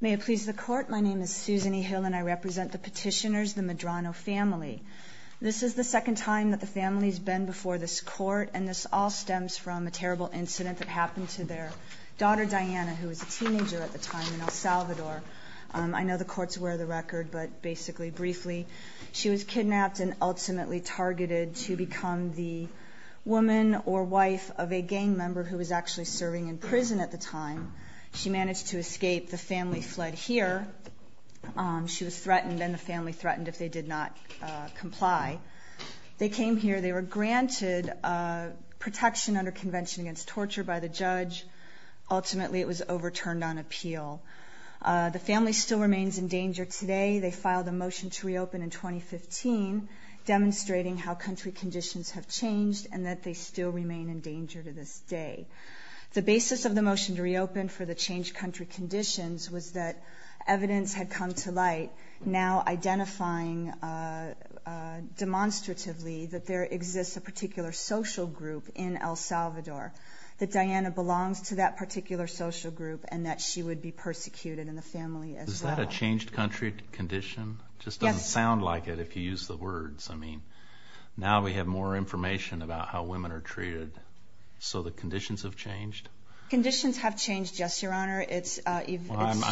May it please the court, my name is Susan E. Hill and I represent the petitioners, the Medrano family. This is the second time that the family has been before this court, and this all stems from a terrible incident that happened to their daughter, Diana, who was a teenager at the time in El Salvador. I know the court's aware of the record, but basically, briefly, she was kidnapped and ultimately targeted to become the woman or wife of a gang member who was actually serving in prison at the time. She managed to escape. The family fled here. She was threatened and the family threatened if they did not comply. They came here. They were granted protection under convention against torture by the judge. Ultimately, it was overturned on appeal. The family still remains in danger today. They filed a motion to reopen in 2015, demonstrating how country conditions have changed and that they still remain in danger to this day. The basis of the motion to reopen for the changed country conditions was that evidence had come to light now identifying demonstratively that there exists a particular social group in El Salvador, that Diana belongs to that particular social group and that she would be persecuted in the family as well. Is that a changed country condition? It just doesn't sound like it if you use the words. I mean, now we have more information about how women are treated, so the conditions have changed? Conditions have changed, yes, Your Honor. I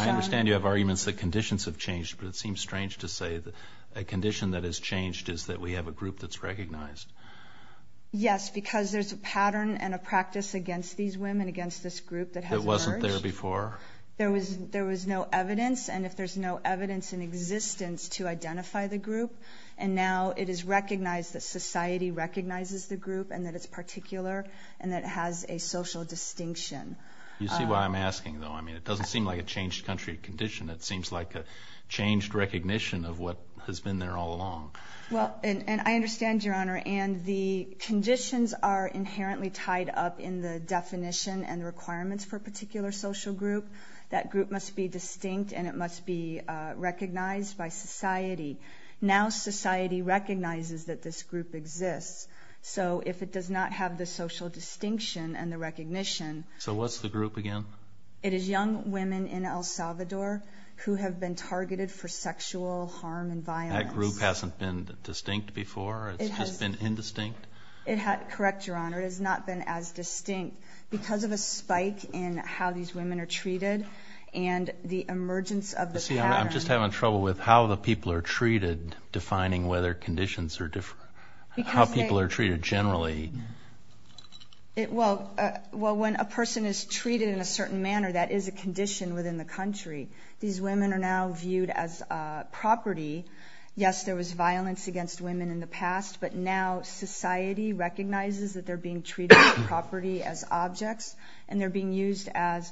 understand you have arguments that conditions have changed, but it seems strange to say that a condition that has changed is that we have a group that's recognized. Yes, because there's a pattern and a practice against these women, against this group that has emerged. That wasn't there before? There was no evidence, and if there's no evidence in existence to identify the group, and now it is recognized that society recognizes the group and that it's particular and that it has a social distinction. You see why I'm asking, though? I mean, it doesn't seem like a changed country condition. It seems like a changed recognition of what has been there all along. Well, and I understand, Your Honor, and the conditions are inherently tied up in the definition and requirements for a particular social group. That group must be distinct and it must be recognized by society. Now society recognizes that this group exists, so if it does not have the social distinction and the recognition... So what's the group again? It is young women in El Salvador who have been targeted for sexual harm and violence. And that group hasn't been distinct before? It's just been indistinct? Correct, Your Honor. It has not been as distinct. Because of a spike in how these women are treated and the emergence of the pattern... You see, I'm just having trouble with how the people are treated, defining whether conditions are different. How people are treated generally. Well, when a person is treated in a certain manner, that is a condition within the country. These women are now viewed as property. Yes, there was violence against women in the past, but now society recognizes that they're being treated as property, as objects. And they're being used as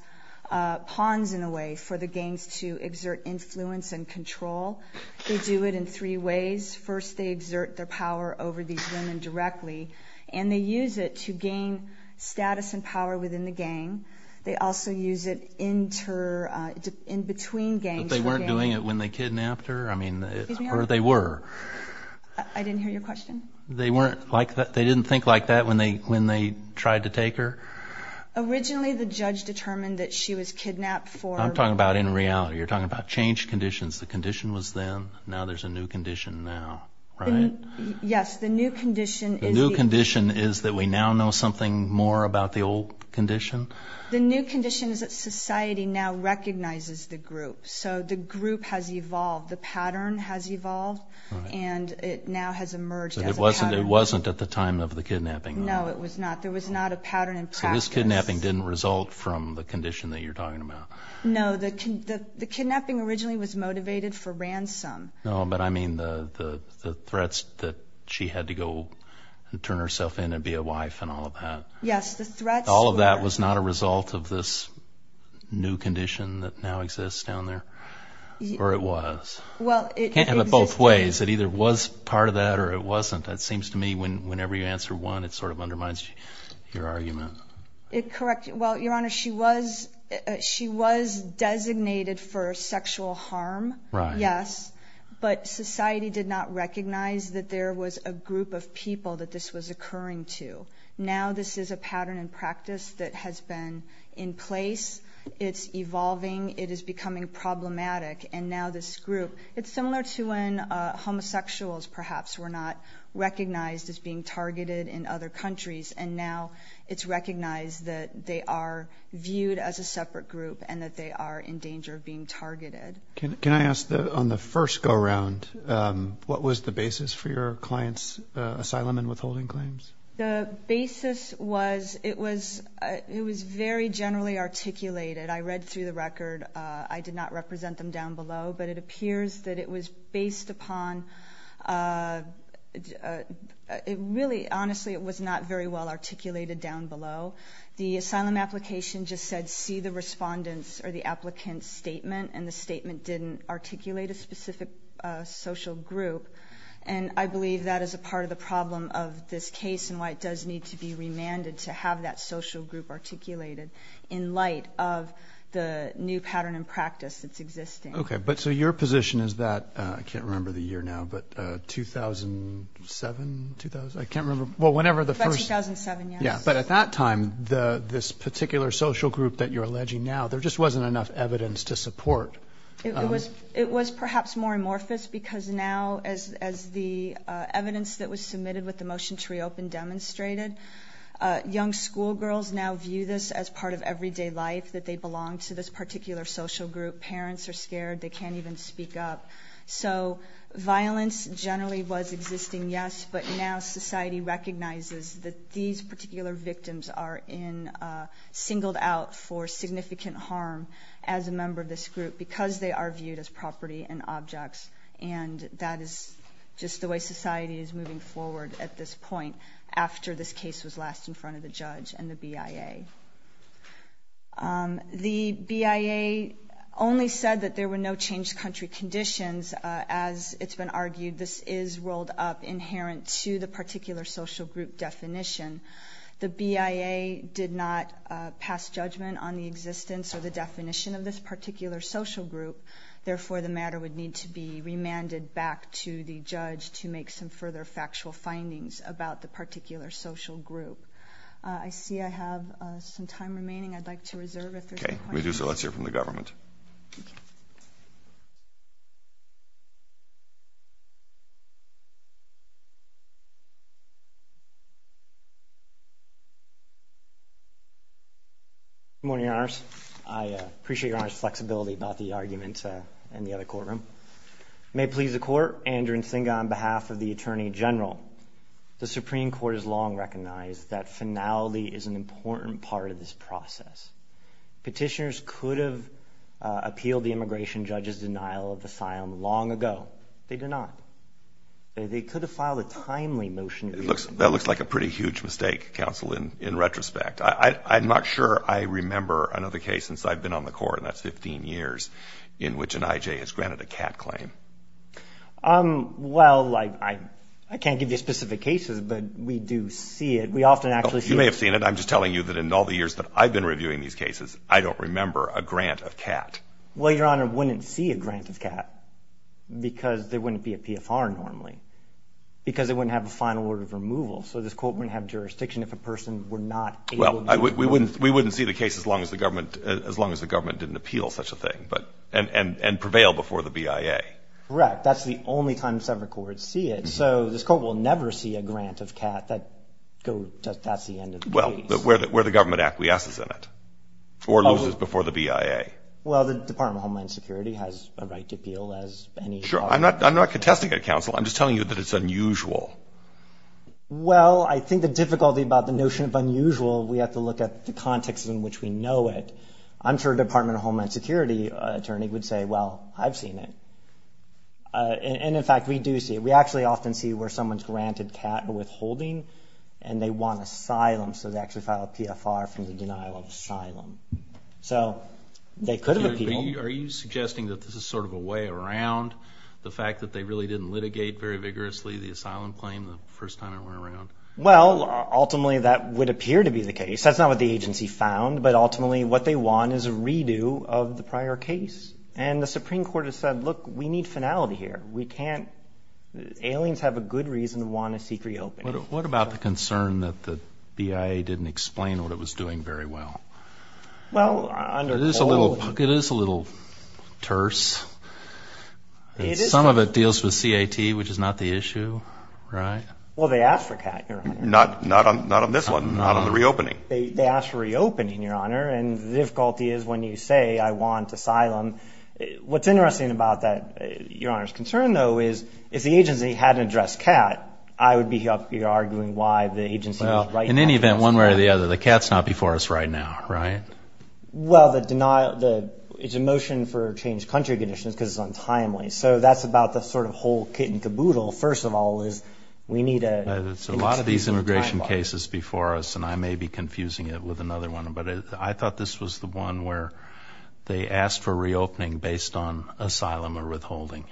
pawns, in a way, for the gangs to exert influence and control. They do it in three ways. First, they exert their power over these women directly, and they use it to gain status and power within the gang. They also use it in between gangs. But they weren't doing it when they kidnapped her? Or they were? I didn't hear your question. They didn't think like that when they tried to take her? Originally, the judge determined that she was kidnapped for... Now there's a new condition now, right? Yes, the new condition is... The new condition is that we now know something more about the old condition? The new condition is that society now recognizes the group. So the group has evolved. The pattern has evolved, and it now has emerged as a pattern. But it wasn't at the time of the kidnapping? No, it was not. There was not a pattern in practice. So this kidnapping didn't result from the condition that you're talking about? No, the kidnapping originally was motivated for ransom. No, but I mean the threats that she had to go and turn herself in and be a wife and all of that. Yes, the threats were... All of that was not a result of this new condition that now exists down there? Or it was? Well, it... It can't have it both ways. It either was part of that or it wasn't. It seems to me whenever you answer one, it sort of undermines your argument. Well, Your Honor, she was... She was designated for sexual harm. Right. Yes, but society did not recognize that there was a group of people that this was occurring to. Now this is a pattern in practice that has been in place. It's evolving. It is becoming problematic. And now this group... It's similar to when homosexuals, perhaps, were not recognized as being targeted in other countries. And now it's recognized that they are viewed as a separate group and that they are in danger of being targeted. Can I ask on the first go-around, what was the basis for your client's asylum and withholding claims? The basis was... It was very generally articulated. I read through the record. I did not represent them down below, but it appears that it was based upon... Really, honestly, it was not very well articulated down below. The asylum application just said, see the respondent's or the applicant's statement, and the statement didn't articulate a specific social group. And I believe that is a part of the problem of this case and why it does need to be remanded to have that social group articulated in light of the new pattern in practice that's existing. Okay, but so your position is that... That's 2007, yes. But at that time, this particular social group that you're alleging now, there just wasn't enough evidence to support. It was perhaps more amorphous because now, as the evidence that was submitted with the motion to reopen demonstrated, young schoolgirls now view this as part of everyday life, that they belong to this particular social group. Parents are scared. They can't even speak up. So violence generally was existing, yes, but now society recognizes that these particular victims are singled out for significant harm as a member of this group because they are viewed as property and objects. And that is just the way society is moving forward at this point after this case was last in front of the judge and the BIA. The BIA only said that there were no changed country conditions. As it's been argued, this is rolled up inherent to the particular social group definition. The BIA did not pass judgment on the existence or the definition of this particular social group. Therefore, the matter would need to be remanded back to the judge to make some further factual findings about the particular social group. I see I have some time remaining. I'd like to reserve if there's any questions. Okay, if we do so, let's hear from the government. Good morning, Your Honors. I appreciate Your Honor's flexibility about the argument in the other courtroom. It may please the Court, Andrew Nzinga on behalf of the Attorney General. The Supreme Court has long recognized that finality is an important part of this process. Petitioners could have appealed the immigration judge's denial of asylum long ago. They did not. They could have filed a timely motion. That looks like a pretty huge mistake, counsel, in retrospect. I'm not sure I remember another case since I've been on the Court, and that's 15 years in which an IJ has granted a CAT claim. Well, I can't give you specific cases, but we do see it. We often actually see it. And I'm just telling you that in all the years that I've been reviewing these cases, I don't remember a grant of CAT. Well, Your Honor, we wouldn't see a grant of CAT because there wouldn't be a PFR normally, because it wouldn't have a final order of removal. So this Court wouldn't have jurisdiction if a person were not able to do it. Well, we wouldn't see the case as long as the government didn't appeal such a thing and prevail before the BIA. Correct. That's the only time separate courts see it. So this Court will never see a grant of CAT. That's the end of the case. Well, where the government acquiesces in it or loses before the BIA. Well, the Department of Homeland Security has a right to appeal as any charge. Sure. I'm not contesting it, counsel. I'm just telling you that it's unusual. Well, I think the difficulty about the notion of unusual, we have to look at the context in which we know it. I'm sure a Department of Homeland Security attorney would say, well, I've seen it. And, in fact, we do see it. We actually often see where someone's granted CAT or withholding and they want asylum. So they actually file a PFR from the denial of asylum. So they could have appealed. Are you suggesting that this is sort of a way around the fact that they really didn't litigate very vigorously the asylum claim the first time it went around? Well, ultimately that would appear to be the case. That's not what the agency found. But, ultimately, what they want is a redo of the prior case. And the Supreme Court has said, look, we need finality here. Aliens have a good reason to want to seek reopening. What about the concern that the BIA didn't explain what it was doing very well? Well, under all of them. It is a little terse. Some of it deals with CAT, which is not the issue, right? Well, they asked for CAT, Your Honor. Not on this one. Not on the reopening. They asked for reopening, Your Honor. And the difficulty is when you say, I want asylum, what's interesting about that, Your Honor's concern, though, is if the agency hadn't addressed CAT, I would be up here arguing why the agency was right not to address CAT. In any event, one way or the other, the CAT's not before us right now, right? Well, it's a motion for changed country conditions because it's untimely. So that's about the sort of whole kit and caboodle. First of all is we need an extensible timeline. There's a lot of these immigration cases before us, and I may be confusing it with another one. But I thought this was the one where they asked for reopening based on asylum or withholding.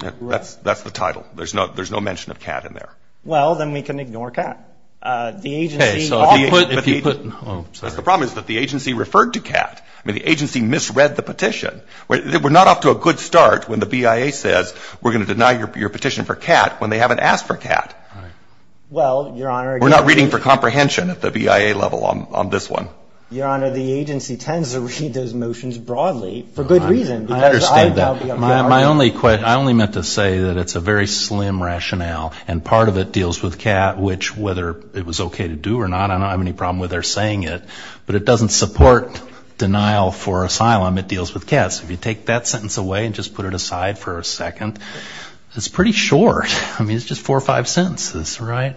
That's the title. There's no mention of CAT in there. Well, then we can ignore CAT. Okay, so if you put – oh, sorry. The problem is that the agency referred to CAT. I mean, the agency misread the petition. We're not off to a good start when the BIA says we're going to deny your petition for CAT when they haven't asked for CAT. Well, Your Honor – We're not reading for comprehension at the BIA level on this one. Your Honor, the agency tends to read those motions broadly for good reason. I understand that. I only meant to say that it's a very slim rationale, and part of it deals with CAT, which whether it was okay to do or not, I don't have any problem with their saying it. But it doesn't support denial for asylum. It deals with CAT. So if you take that sentence away and just put it aside for a second, it's pretty short. I mean, it's just four or five sentences, right?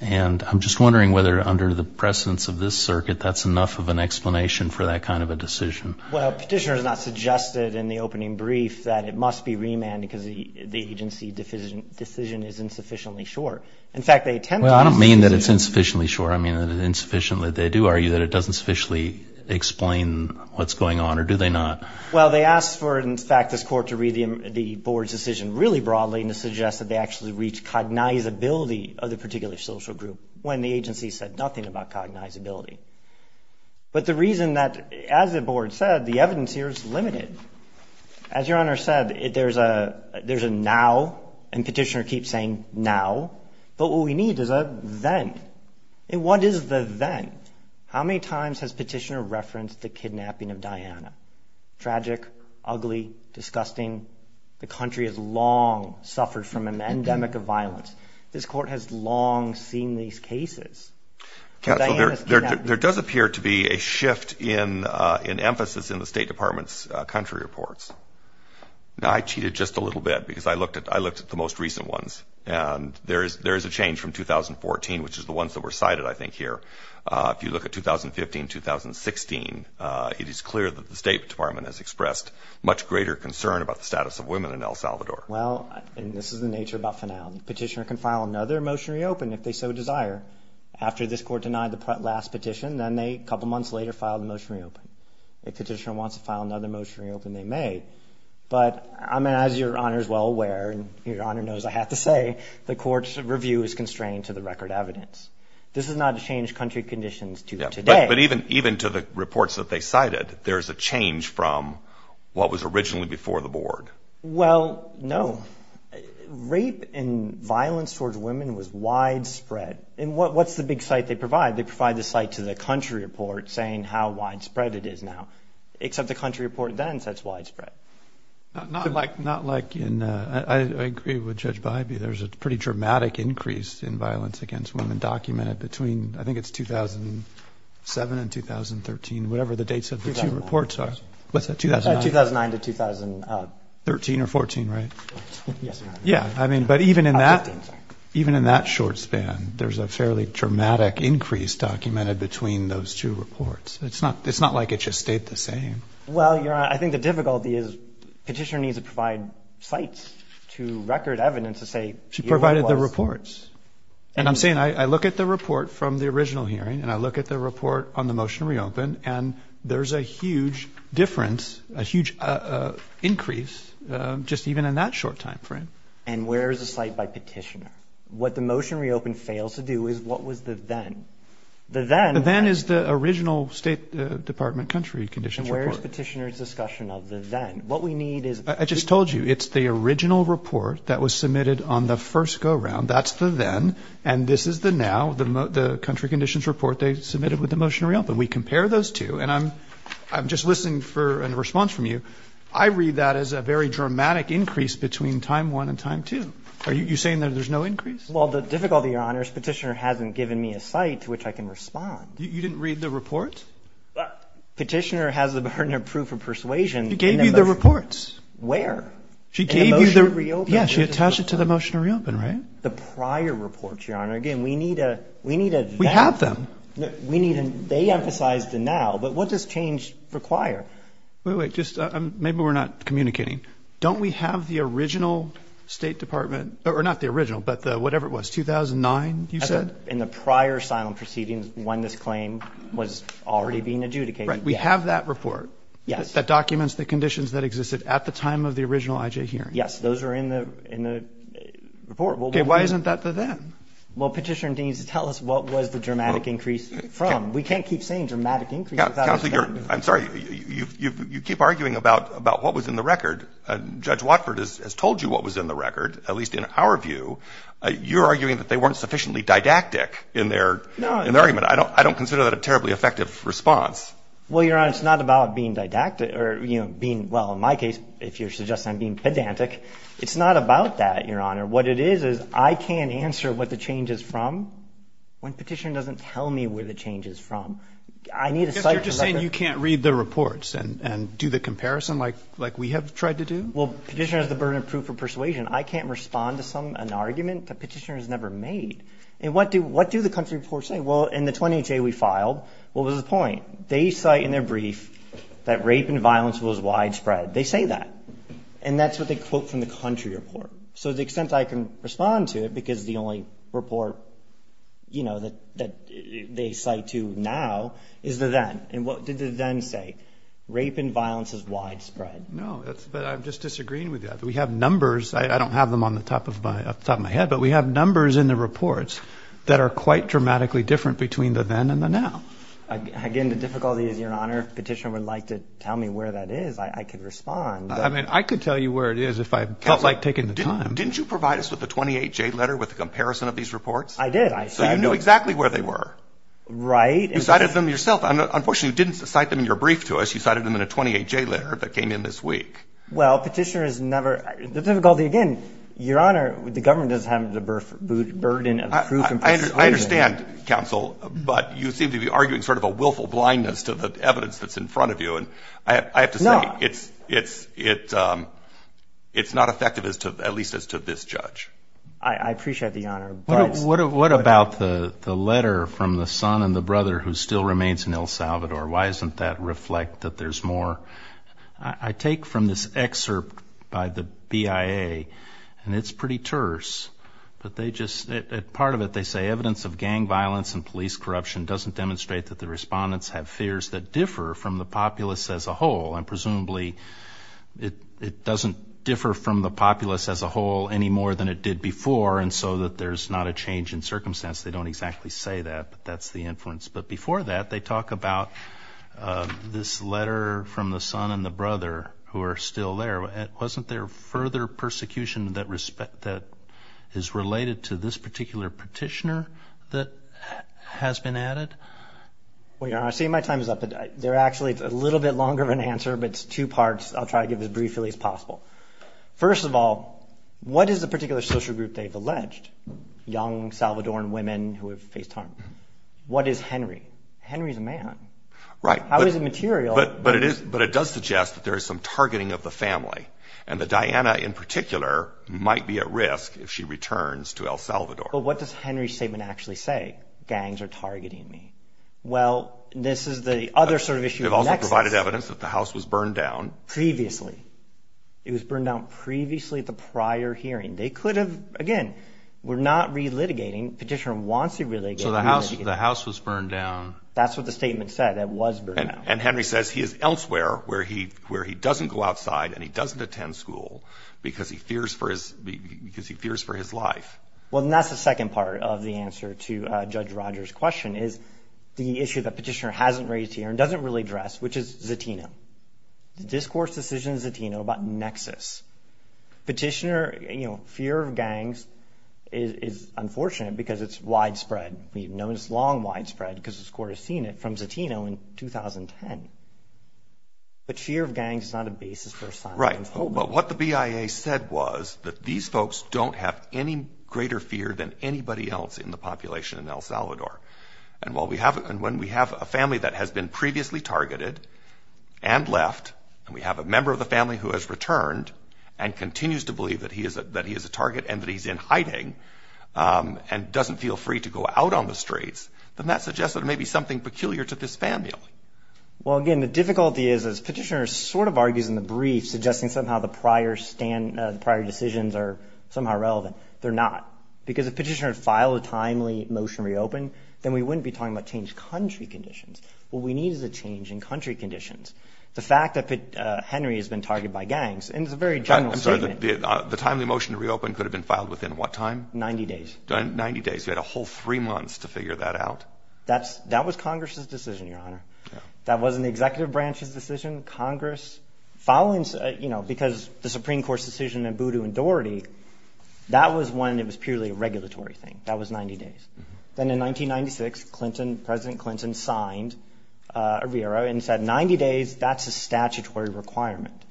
And I'm just wondering whether under the precedence of this circuit, that's enough of an explanation for that kind of a decision. Well, Petitioner has not suggested in the opening brief that it must be remanded because the agency decision is insufficiently short. In fact, they tend to – Well, I don't mean that it's insufficiently short. I mean insufficiently. They do argue that it doesn't sufficiently explain what's going on, or do they not? Well, they asked for, in fact, this Court to read the Board's decision really broadly and to suggest that they actually reach cognizability of the particular social group when the agency said nothing about cognizability. But the reason that, as the Board said, the evidence here is limited. As Your Honor said, there's a now, and Petitioner keeps saying now, but what we need is a then. And what is the then? How many times has Petitioner referenced the kidnapping of Diana? Tragic, ugly, disgusting. The country has long suffered from an endemic of violence. This Court has long seen these cases. There does appear to be a shift in emphasis in the State Department's country reports. Now, I cheated just a little bit because I looked at the most recent ones, and there is a change from 2014, which is the ones that were cited, I think, here. If you look at 2015, 2016, it is clear that the State Department has expressed much greater concern about the status of women in El Salvador. Well, and this is the nature of Buff and Allen. Petitioner can file another motion to reopen if they so desire. After this Court denied the last petition, then they, a couple months later, filed a motion to reopen. If Petitioner wants to file another motion to reopen, they may. But, I mean, as Your Honor is well aware, and Your Honor knows I have to say, the Court's review is constrained to the record evidence. This is not to change country conditions to today. But even to the reports that they cited, there is a change from what was originally before the Board. Well, no. Rape and violence towards women was widespread. And what's the big cite they provide? They provide the cite to the country report saying how widespread it is now, except the country report then says widespread. Not like in, I agree with Judge Bybee, there is a pretty dramatic increase in violence against women documented between, I think it's 2007 and 2013, whatever the dates of the two reports are. What's that, 2009? 2009 to 2013. 13 or 14, right? Yes, Your Honor. Yeah, I mean, but even in that short span, there's a fairly dramatic increase documented between those two reports. It's not like it just stayed the same. Well, Your Honor, I think the difficulty is Petitioner needs to provide cites to record evidence to say. She provided the reports. And I'm saying I look at the report from the original hearing, and I look at the report on the motion to reopen, and there's a huge difference, a huge increase just even in that short time frame. And where is the cite by Petitioner? What the motion to reopen fails to do is what was the then? The then. The then is the original State Department country conditions report. And where is Petitioner's discussion of the then? What we need is. I just told you, it's the original report that was submitted on the first go-round. That's the then. And this is the now, the country conditions report they submitted with the motion to reopen. We compare those two. And I'm just listening for a response from you. I read that as a very dramatic increase between time one and time two. Are you saying that there's no increase? Well, the difficulty, Your Honor, is Petitioner hasn't given me a cite to which I can respond. You didn't read the report? Petitioner has the burden of proof of persuasion. She gave you the reports. Where? She gave you the. In the motion to reopen. Yes, she attached it to the motion to reopen, right? And the prior reports, Your Honor. Again, we need a. We need a. We have them. We need. They emphasize the now. But what does change require? Wait, wait. Just maybe we're not communicating. Don't we have the original State Department? Or not the original, but the whatever it was, 2009, you said? In the prior asylum proceedings when this claim was already being adjudicated. Right. We have that report. Yes. That documents the conditions that existed at the time of the original IJ hearing. Yes. Those are in the report. Okay. Why isn't that the then? Well, Petitioner needs to tell us what was the dramatic increase from. We can't keep saying dramatic increase without. Counsel, you're. I'm sorry. You keep arguing about what was in the record. Judge Watford has told you what was in the record, at least in our view. You're arguing that they weren't sufficiently didactic in their. No. In their argument. I don't consider that a terribly effective response. Well, Your Honor, it's not about being didactic or being. Well, in my case, if you're suggesting I'm being pedantic. It's not about that, Your Honor. What it is, is I can't answer what the change is from when Petitioner doesn't tell me where the change is from. I need to cite. You're just saying you can't read the reports and do the comparison like we have tried to do? Well, Petitioner has the burden of proof of persuasion. I can't respond to an argument that Petitioner has never made. And what do the country reports say? Well, in the 28th day we filed, what was the point? They cite in their brief that rape and violence was widespread. They say that. And that's what they quote from the country report. So to the extent I can respond to it, because the only report, you know, that they cite to now is the then. And what did the then say? Rape and violence is widespread. No, but I'm just disagreeing with that. We have numbers. I don't have them on the top of my head. But we have numbers in the reports that are quite dramatically different between the then and the now. Again, the difficulty is, Your Honor, if Petitioner would like to tell me where that is, I could respond. I mean, I could tell you where it is if I felt like taking the time. Counsel, didn't you provide us with the 28-J letter with a comparison of these reports? I did. So you knew exactly where they were. Right. You cited them yourself. Unfortunately, you didn't cite them in your brief to us. You cited them in a 28-J letter that came in this week. Well, Petitioner has never. The difficulty, again, Your Honor, the government doesn't have the burden of proof of persuasion. I understand, Counsel, but you seem to be arguing sort of a willful blindness to the evidence that's in front of you. I have to say it's not effective, at least as to this judge. I appreciate the honor. What about the letter from the son and the brother who still remains in El Salvador? Why doesn't that reflect that there's more? I take from this excerpt by the BIA, and it's pretty terse. Part of it, they say, The evidence of gang violence and police corruption doesn't demonstrate that the respondents have fears that differ from the populace as a whole. And presumably it doesn't differ from the populace as a whole any more than it did before, and so that there's not a change in circumstance. They don't exactly say that, but that's the inference. But before that, they talk about this letter from the son and the brother who are still there. Wasn't there further persecution that is related to this particular petitioner that has been added? Well, Your Honor, I see my time is up. There actually is a little bit longer of an answer, but it's two parts. I'll try to give it as briefly as possible. First of all, what is the particular social group they've alleged, young Salvadoran women who have faced harm? What is Henry? Henry is a man. Right. How is it material? But it does suggest that there is some targeting of the family and that Diana in particular might be at risk if she returns to El Salvador. But what does Henry's statement actually say? Gangs are targeting me. Well, this is the other sort of issue. They've also provided evidence that the house was burned down. Previously. It was burned down previously at the prior hearing. They could have, again, we're not relitigating. Petitioner wants to relitigate. So the house was burned down. That's what the statement said. It was burned down. And Henry says he is elsewhere where he doesn't go outside and he doesn't attend school because he fears for his life. Well, and that's the second part of the answer to Judge Rogers' question is the issue that Petitioner hasn't raised here and doesn't really address, which is Zatino, the discourse decision in Zatino about nexus. Petitioner, you know, fear of gangs is unfortunate because it's widespread. We've known it's long widespread because the court has seen it from Zatino in 2010. But fear of gangs is not a basis for asylum. Right. But what the BIA said was that these folks don't have any greater fear than anybody else in the population in El Salvador. And when we have a family that has been previously targeted and left, and we have a member of the family who has returned and continues to believe that he is a target and that he's in hiding and doesn't feel free to go out on the streets, then that suggests that it may be something peculiar to this family. Well, again, the difficulty is Petitioner sort of argues in the brief suggesting somehow the prior decisions are somehow relevant. They're not. Because if Petitioner had filed a timely motion to reopen, then we wouldn't be talking about changed country conditions. What we need is a change in country conditions. The fact that Henry has been targeted by gangs, and it's a very general statement. The timely motion to reopen could have been filed within what time? Ninety days. Ninety days. You had a whole three months to figure that out. That was Congress's decision, Your Honor. That wasn't the executive branch's decision. Congress following, you know, because the Supreme Court's decision in Voodoo and Doherty, that was when it was purely a regulatory thing. That was 90 days. Then in 1996, President Clinton signed a VERA and said 90 days, that's a statutory requirement.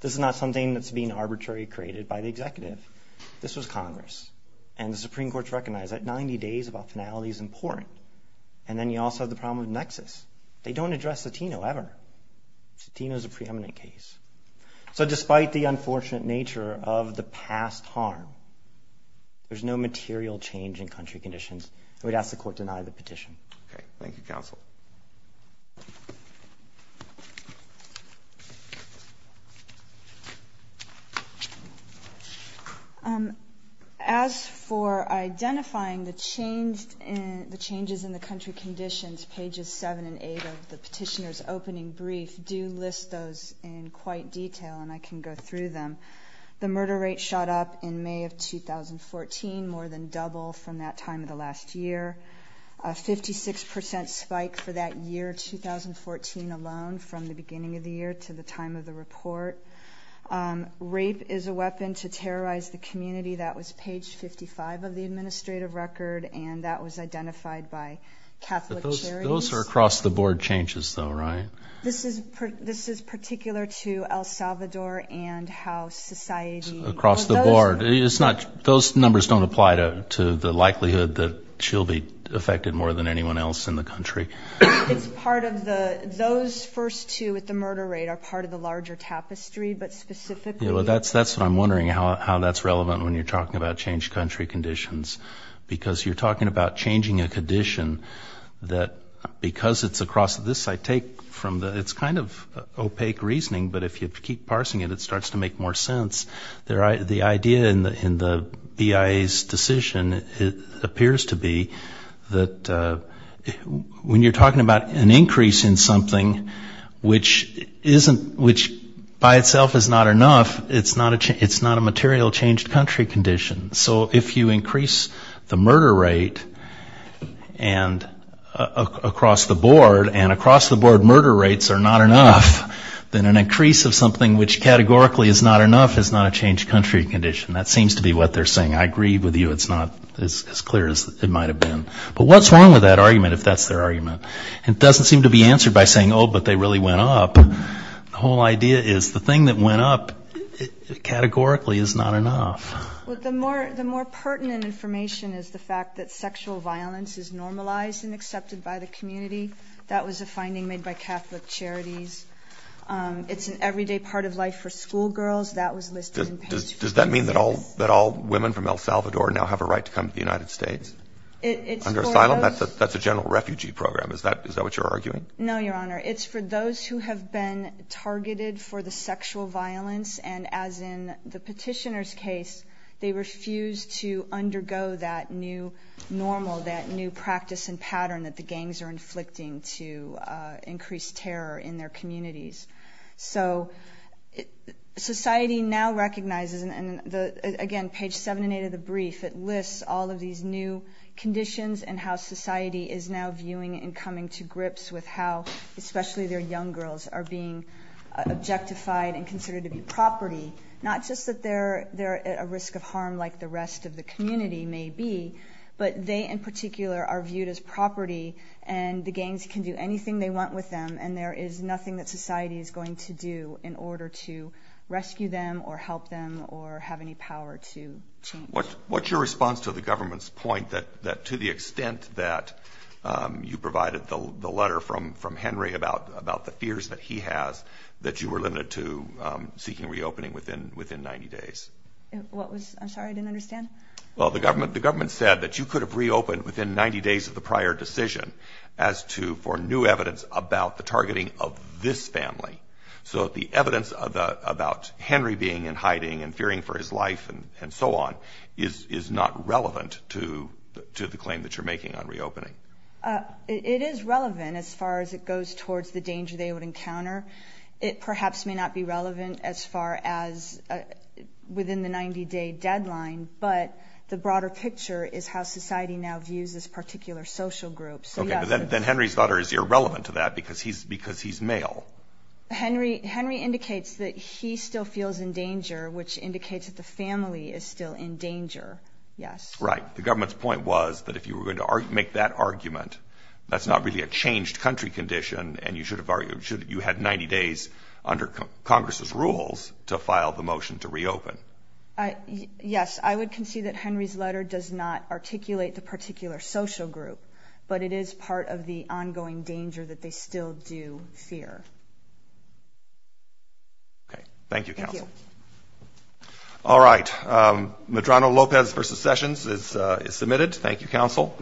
This is not something that's being arbitrarily created by the executive. This was Congress. And the Supreme Court recognized that 90 days about finality is important. And then you also have the problem of nexus. They don't address Latino ever. Latino is a preeminent case. So despite the unfortunate nature of the past harm, there's no material change in country conditions. And we'd ask the court to deny the petition. Okay. Thank you, counsel. As for identifying the changes in the country conditions, pages 7 and 8 of the petitioner's opening brief do list those in quite detail, and I can go through them. The murder rate shot up in May of 2014, more than double from that time of the last year. A 56% spike for that year, 2014 alone, from the beginning of the year to the time of the report. Rape is a weapon to terrorize the community. That was page 55 of the administrative record, and that was identified by Catholic Charities. Those are across-the-board changes, though, right? This is particular to El Salvador and how society across the board. Those numbers don't apply to the likelihood that she'll be affected more than anyone else in the country. It's part of the those first two at the murder rate are part of the larger tapestry, but specifically. Yeah, well, that's what I'm wondering, how that's relevant when you're talking about changed country conditions. Because you're talking about changing a condition that because it's across this I take from the it's kind of opaque reasoning, but if you keep parsing it, it starts to make more sense. The idea in the BIA's decision appears to be that when you're talking about an increase in something, which by itself is not enough, it's not a material changed country condition. So if you increase the murder rate across the board, and across the board murder rates are not enough, then an increase of something which categorically is not enough is not a changed country condition. That seems to be what they're saying. I agree with you. It's not as clear as it might have been. But what's wrong with that argument, if that's their argument? It doesn't seem to be answered by saying, oh, but they really went up. The whole idea is the thing that went up categorically is not enough. Well, the more pertinent information is the fact that sexual violence is normalized and accepted by the community. That was a finding made by Catholic Charities. It's an everyday part of life for schoolgirls. That was listed in page 5. Does that mean that all women from El Salvador now have a right to come to the United States under asylum? That's a general refugee program. Is that what you're arguing? No, Your Honor. It's for those who have been targeted for the sexual violence, and as in the petitioner's case, they refuse to undergo that new normal, that new practice and pattern that the gangs are inflicting to increase terror in their communities. So society now recognizes, and again, page 7 and 8 of the brief, it lists all of these new conditions and how society is now viewing and coming to grips with how especially their young girls are being objectified and considered to be property, not just that they're at a risk of harm like the rest of the community may be, but they in particular are viewed as property and the gangs can do anything they want with them and there is nothing that society is going to do in order to rescue them or help them or have any power to change. What's your response to the government's point that to the extent that you provided the letter from Henry about the fears that he has, that you were limited to seeking reopening within 90 days? I'm sorry, I didn't understand? Well, the government said that you could have reopened within 90 days of the prior decision as to for new evidence about the targeting of this family. So the evidence about Henry being in hiding and fearing for his life and so on is not relevant to the claim that you're making on reopening. It is relevant as far as it goes towards the danger they would encounter. It perhaps may not be relevant as far as within the 90-day deadline, but the broader picture is how society now views this particular social group. Okay, but then Henry's daughter is irrelevant to that because he's male. Henry indicates that he still feels in danger, which indicates that the family is still in danger, yes. Right, the government's point was that if you were going to make that argument, that's not really a changed country condition and you had 90 days under Congress's rules to file the motion to reopen. Yes, I would concede that Henry's letter does not articulate the particular social group, but it is part of the ongoing danger that they still do fear. Okay, thank you, Counsel. Thank you. All right, Medrano-Lopez v. Sessions is submitted. Thank you, Counsel.